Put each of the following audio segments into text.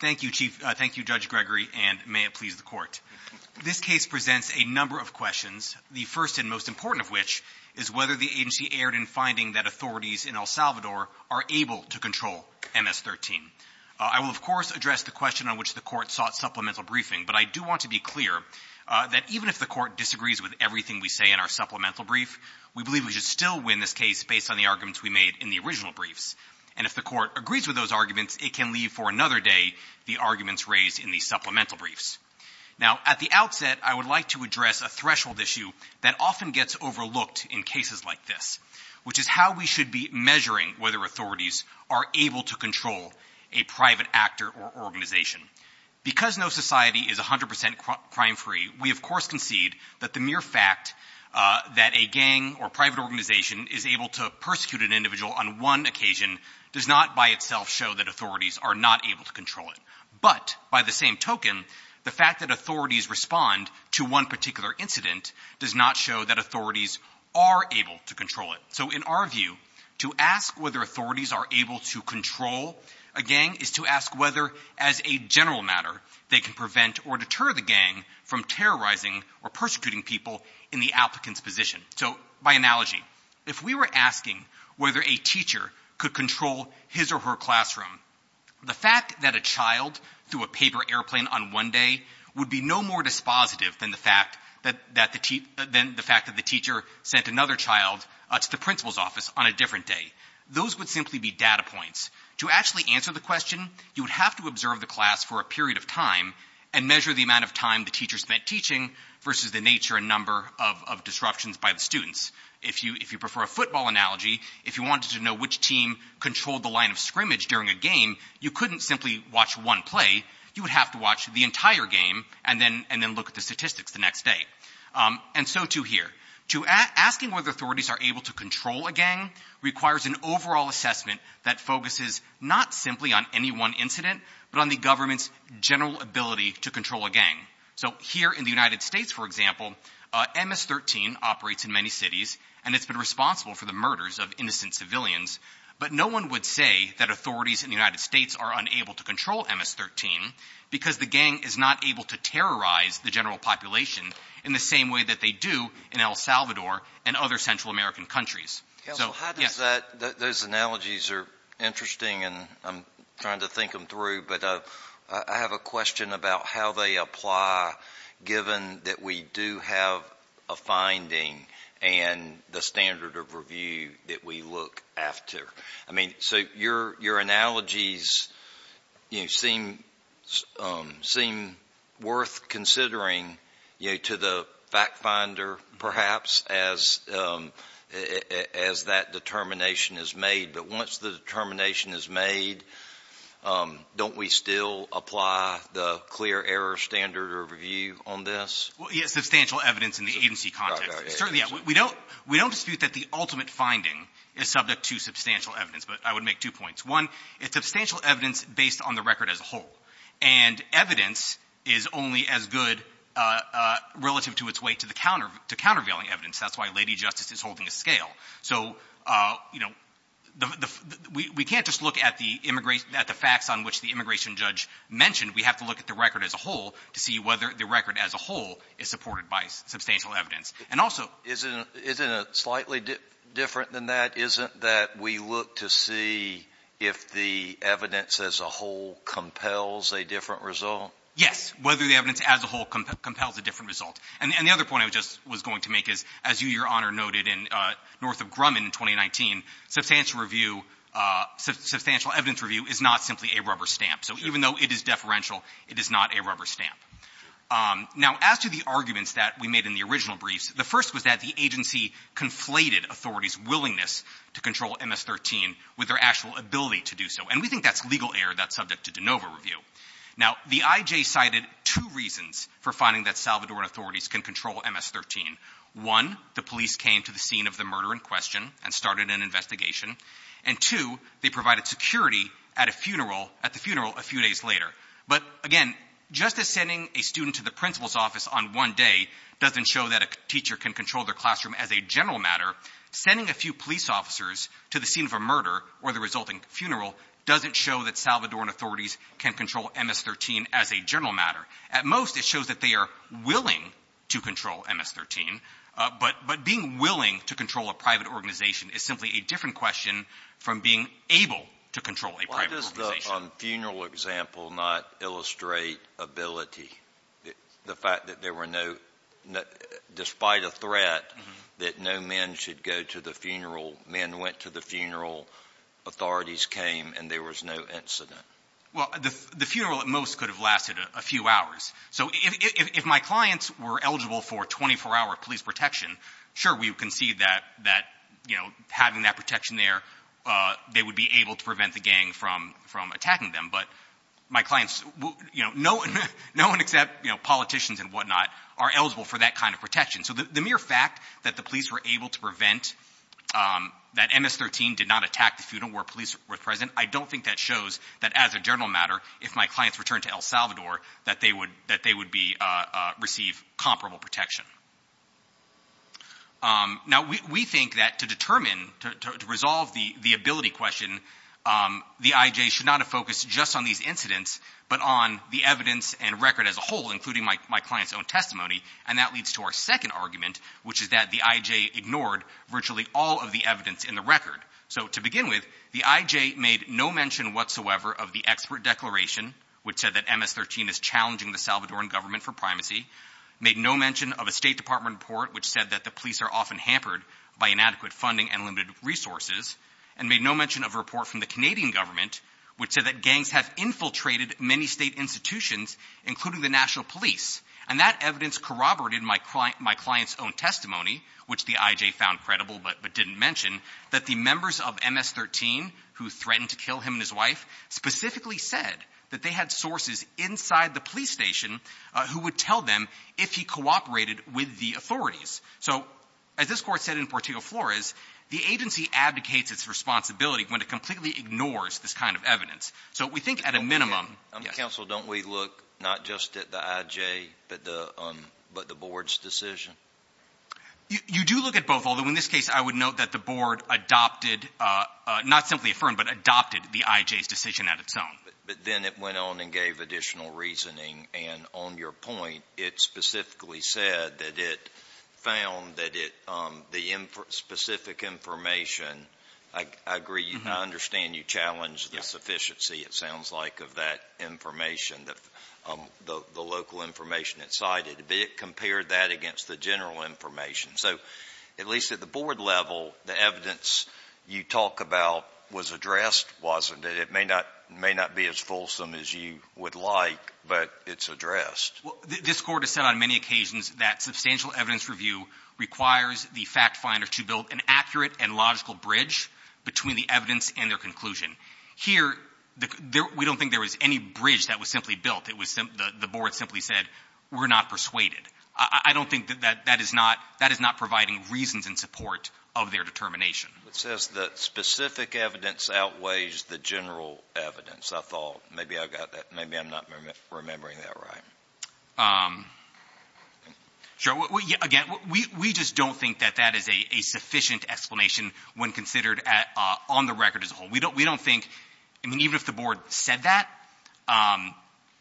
Thank you, Judge Gregory, and may it please the Court. This case presents a number of questions, the first and most important of which is whether the agency erred in finding that authorities in El Salvador are able to control MS-13. I will, of course, address the question on which the Court sought supplemental briefing, but I do want to be clear that even if the Court disagrees with everything we say in our supplemental brief, we believe we should still win this case based on the arguments we made in the original briefs. And if the Court agrees with those arguments, it can leave for another day the arguments raised in the supplemental briefs. Now, at the outset, I would like to address a threshold issue that often gets overlooked in cases like this, which is how we should be measuring whether authorities are able to control a private actor or organization. Because no society is 100 percent crime-free, we, of course, concede that the mere fact that a gang or private organization is able to persecute an individual on one occasion does not by itself show that authorities are not able to control it. But by the same token, the fact that authorities respond to one particular incident does not show that authorities are able to control it. So in our view, to ask whether authorities are able to control a gang is to ask whether, as a general matter, they can prevent or deter the gang from terrorizing or persecuting people in the applicant's position. So, by analogy, if we were asking whether a teacher could control his or her classroom, the fact that a child threw a paper airplane on one day would be no more dispositive than the fact that the teacher sent another child to the principal's office on a different day. Those would simply be data points. To actually answer the question, you would have to observe the class for a period of time and measure the amount of time the teacher spent teaching versus the nature and number of disruptions by the students. If you prefer a football analogy, if you wanted to know which team controlled the line of scrimmage during a game, you couldn't simply watch one play. You would have to watch the entire game and then look at the statistics the next day. And so too here. Asking whether authorities are able to control a gang requires an overall assessment that focuses not simply on any one incident, but on the government's general ability to control a gang. So, here in the United States, for example, MS-13 operates in many cities, and it's been responsible for the murders of innocent civilians. But no one would say that authorities in the United States are unable to control MS-13 because the gang is not able to terrorize the general population in the same way that they do in El Salvador and other Central American countries. Counsel, how does that, those analogies are interesting and I'm trying to think them through, but I have a question about how they apply given that we do have a finding and the standard of review that we look after. I mean, so your analogies seem worth considering to the fact finder perhaps as that determination is made. But once the determination is made, don't we still apply the clear error standard of review on this? Well, yes, substantial evidence in the agency context. We don't dispute that the ultimate finding is subject to substantial evidence, but I would make two points. One, it's substantial evidence based on the record as a whole. And evidence is only as good relative to its weight to countervailing evidence. That's why Lady Justice is holding a scale. So, you know, we can't just look at the facts on which the immigration judge mentioned. We have to look at the record as a whole to see whether the record as a whole is supported by substantial evidence. And also isn't it slightly different than that? Isn't that we look to see if the evidence as a whole compels a different result? Yes, whether the evidence as a whole compels a different result. And the other point I was going to make is, as you, Your Honor, noted in North of Grumman in 2019, substantial review, substantial evidence review is not simply a rubber stamp. So even though it is deferential, it is not a rubber stamp. Now, as to the arguments that we made in the original briefs, the first was that the agency conflated authorities' willingness to control MS-13 with their actual ability to do so. And we think that's legal error that's subject to de novo review. Now, the IJ cited two reasons for finding that Salvadoran authorities can control MS-13. One, the police came to the scene of the murder in question and started an investigation. And two, they provided security at a funeral, at the funeral a few days later. But again, just as sending a student to the principal's office on one day doesn't show that a teacher can control their classroom as a general matter, sending a few police officers to the scene of a murder or the resulting funeral doesn't show that Salvadoran authorities can control MS-13 as a general matter. At most, it shows that they are willing to control MS-13. But being willing to control a private organization is simply a different question from being able to control a private organization. Why does the funeral example not illustrate ability, the fact that there were no — despite a threat that no men should go to the funeral, men went to the funeral, authorities came, and there was no incident? Well, the funeral at most could have lasted a few hours. So if my clients were eligible for 24-hour police protection, sure, we concede that having that protection there, they would be able to prevent the gang from attacking them. But my clients — no one except politicians and whatnot are eligible for that kind of protection. So the mere fact that the police were able to prevent — that MS-13 did not attack the police were present, I don't think that shows that as a general matter, if my clients returned to El Salvador, that they would be — receive comparable protection. Now we think that to determine, to resolve the ability question, the IJ should not have focused just on these incidents, but on the evidence and record as a whole, including my client's own testimony. And that leads to our second argument, which is that the IJ ignored virtually all of the evidence in the record. So to begin with, the IJ made no mention whatsoever of the expert declaration, which said that MS-13 is challenging the Salvadoran government for primacy, made no mention of a State Department report which said that the police are often hampered by inadequate funding and limited resources, and made no mention of a report from the Canadian government which said that gangs have infiltrated many state institutions, including the national police. And that evidence corroborated my client's own testimony, which the IJ found credible but didn't mention, that the members of MS-13 who threatened to kill him and his wife specifically said that they had sources inside the police station who would tell them if he cooperated with the authorities. So as this Court said in Portillo-Flores, the agency abdicates its responsibility when it completely ignores this kind of evidence. So we think at a minimum — But the Board's decision? You do look at both, although in this case I would note that the Board adopted — not simply affirmed, but adopted the IJ's decision at its own. But then it went on and gave additional reasoning. And on your point, it specifically said that it found that the specific information — I agree, I understand you challenged the sufficiency, it sounds like, of that information, the local information it cited. But it compared that against the general information. So at least at the Board level, the evidence you talk about was addressed, wasn't it? It may not be as fulsome as you would like, but it's addressed. This Court has said on many occasions that substantial evidence review requires the fact finder to build an accurate and logical bridge between the evidence and their conclusion. Here, we don't think there was any bridge that was simply built. The Board simply said, we're not persuaded. I don't think that that is not providing reasons in support of their determination. It says that specific evidence outweighs the general evidence. I thought maybe I got that — maybe I'm not remembering that right. Sure. Again, we just don't think that that is a sufficient explanation when considered on the record as a whole. We don't think — I mean, even if the Board said that,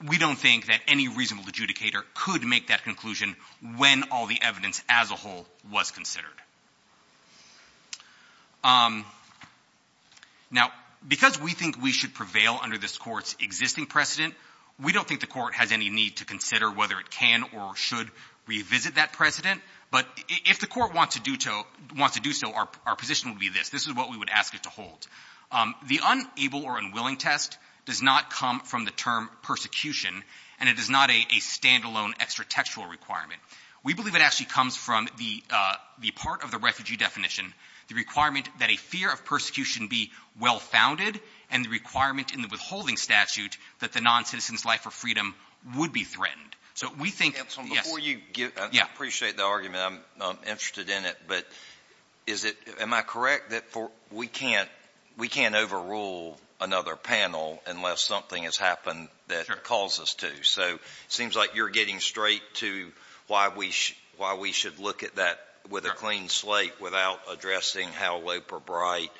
we don't think that any reasonable adjudicator could make that conclusion when all the evidence as a whole was considered. Now, because we think we should prevail under this Court's existing precedent, we don't think the Court has any need to consider whether it can or should revisit that precedent. But if the Court wants to do so, our position would be this. This is what we would ask it to hold. The unable or unwilling test does not come from the term persecution, and it is not a standalone extra-textual requirement. We believe it actually comes from the part of the refugee definition, the requirement that a fear of persecution be well-founded and the requirement in the withholding statute that the noncitizen's life or freedom would be threatened. So we think — I appreciate the argument. I'm interested in it. But is it — am I correct that we can't — we can't overrule another panel unless something has happened that calls us to? So it seems like you're getting straight to why we should look at that with a clean slate without addressing how lope or bright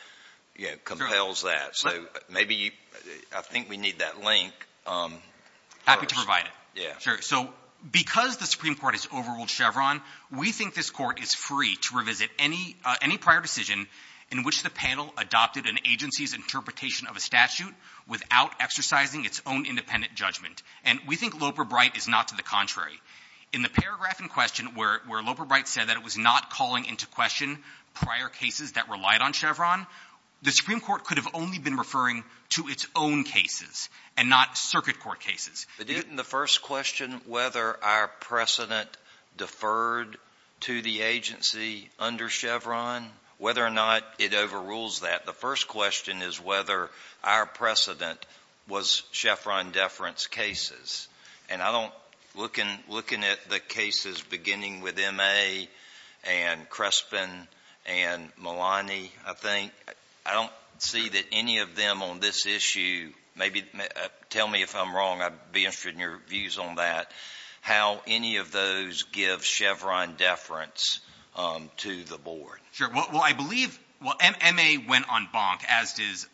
compels that. So maybe you — I think we need that link. Happy to provide it. Yeah. So because the Supreme Court has overruled Chevron, we think this Court is free to revisit any — any prior decision in which the panel adopted an agency's interpretation of a statute without exercising its own independent judgment. And we think lope or bright is not to the contrary. In the paragraph in question where — where lope or bright said that it was not calling into question prior cases that relied on Chevron, the Supreme Court could have only been referring to its own cases and not circuit court cases. But isn't the first question whether our precedent deferred to the agency under Chevron, whether or not it overrules that? The first question is whether our precedent was Chevron deference cases. And I don't — looking — looking at the cases beginning with M.A. and Crespin and Malani, I think, I don't see that any of them on this issue maybe — tell me if I'm wrong. I'd be interested in your views on that, how any of those give Chevron deference to the board. Sure. Well, I believe — well, M.A. went on bonk, as does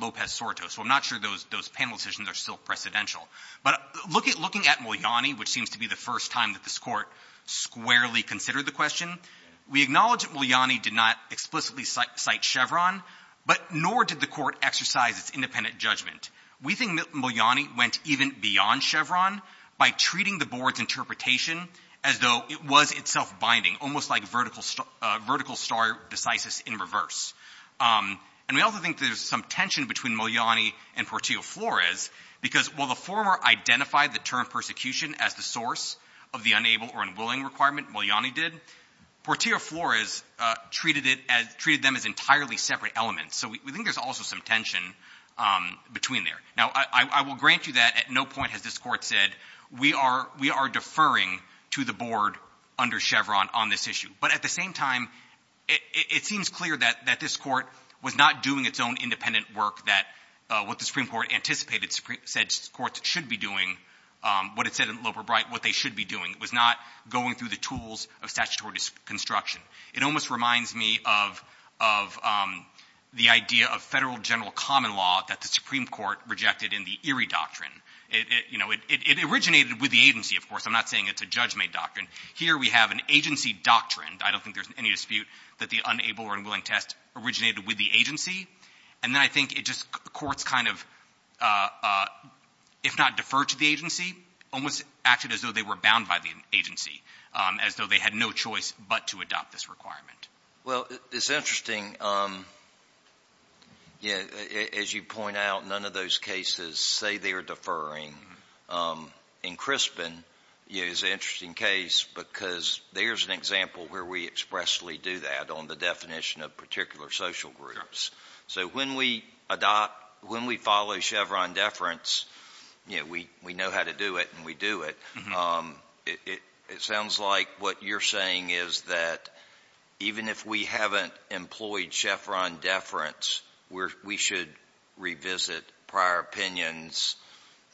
Lopez-Sortos. So I'm not sure those — those panel decisions are still precedential. But looking — looking at Muliani, which seems to be the first time that this Court squarely considered the question, we acknowledge that Muliani did not explicitly cite Chevron, but nor did the Court exercise its independent judgment. We think Muliani went even beyond Chevron by treating the board's interpretation as though it was itself binding, almost like vertical star — vertical star decisis in reverse. And we also think there's some tension between Muliani and Portillo-Flores because while the former identified the term persecution as the source of the unable or requirement, Muliani did, Portillo-Flores treated it as — treated them as entirely separate elements. So we think there's also some tension between there. Now, I will grant you that at no point has this Court said, we are — we are deferring to the board under Chevron on this issue. But at the same time, it seems clear that this Court was not doing its own independent work that — what the Supreme Court anticipated — said courts should be doing, what it said they should be doing. It was not going through the tools of statutory construction. It almost reminds me of — of the idea of federal general common law that the Supreme Court rejected in the Erie Doctrine. It — you know, it originated with the agency, of course. I'm not saying it's a judge-made doctrine. Here we have an agency doctrine. I don't think there's any dispute that the unable or unwilling test originated with the agency. And then I think just courts kind of, if not deferred to the agency, almost acted as though they were bound by the agency, as though they had no choice but to adopt this requirement. Well, it's interesting. Yeah, as you point out, none of those cases say they are deferring. In Crispin, you know, it's an interesting case because there's an example where we expressly do that on the definition of particular social groups. So when we adopt — when we follow Chevron deference, you know, we know how to do it and we do it. It sounds like what you're saying is that even if we haven't employed Chevron deference, we should revisit prior opinions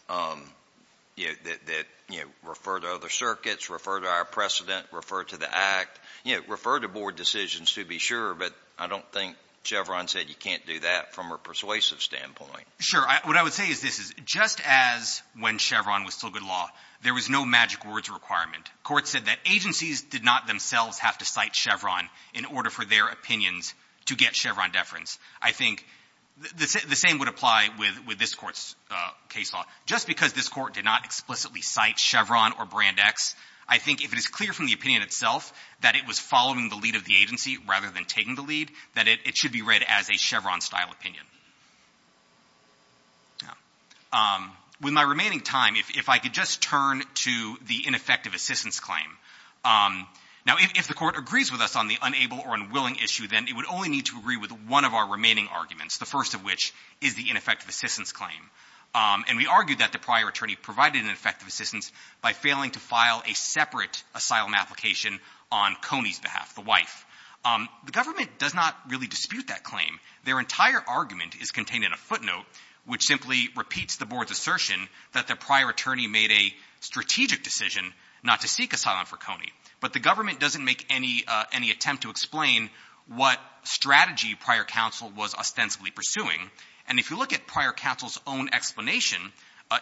that, you know, refer to other circuits, refer to our precedent, refer to the Act, you know, refer to board decisions to be sure. But I don't think Chevron said you can't do that from a persuasive standpoint. Sure. What I would say is this. Just as when Chevron was still good law, there was no magic words requirement. Courts said that agencies did not themselves have to cite Chevron in order for their opinions to get Chevron deference. I think the same would apply with this Court's case law. Just because this Court did not explicitly cite Chevron or Brand X, I think if it is clear from the opinion itself that it was following the lead of the agency rather than taking the lead, that it should be read as a Chevron-style opinion. With my remaining time, if I could just turn to the ineffective assistance claim. Now, if the Court agrees with us on the unable or unwilling issue, then it would only need to agree with one of our remaining arguments, the first of which is the ineffective assistance claim. And we argued that the prior attorney provided an effective assistance by failing to file a separate asylum application on Coney's behalf, the wife. The government does not really dispute that claim. Their entire argument is contained in a footnote, which simply repeats the board's assertion that the prior attorney made a strategic decision not to seek asylum for Coney. But the government doesn't make any attempt to explain what strategy prior counsel was ostensibly pursuing. And if you look at prior counsel's own explanation,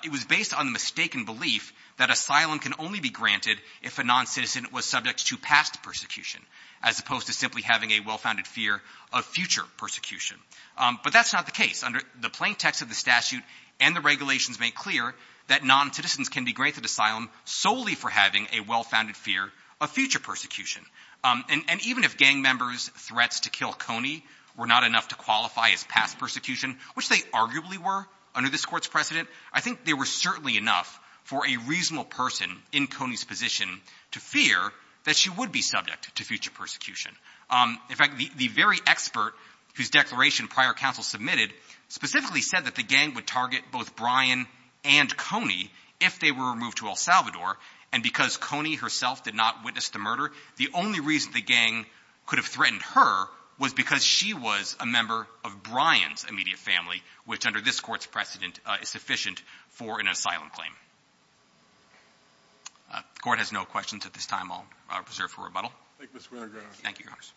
it was based on the mistaken belief that asylum can only be granted if a noncitizen was subject to past persecution, as opposed to simply having a well-founded fear of future persecution. But that's not the case. Under the plain text of the statute and the regulations make clear that noncitizens can be granted asylum solely for having a well-founded fear of future persecution. And even if gang members' threats to kill Coney were not enough to qualify as past persecution, which they arguably were under this Court's precedent, I think they were certainly enough for a reasonable person in Coney's position to fear that she would be subject to future persecution. In fact, the very expert whose declaration prior counsel submitted specifically said that the gang would target both Brian and Coney if they were removed to El Salvador. And because Coney herself did not witness the murder, the only reason the gang could have threatened her was because she was a member of Brian's immediate family, which under this Court's precedent is sufficient for an asylum claim. The Court has no questions at this time. I'll reserve for rebuttal. Thank you, Mr. Winograd. Thank you, Your Honors.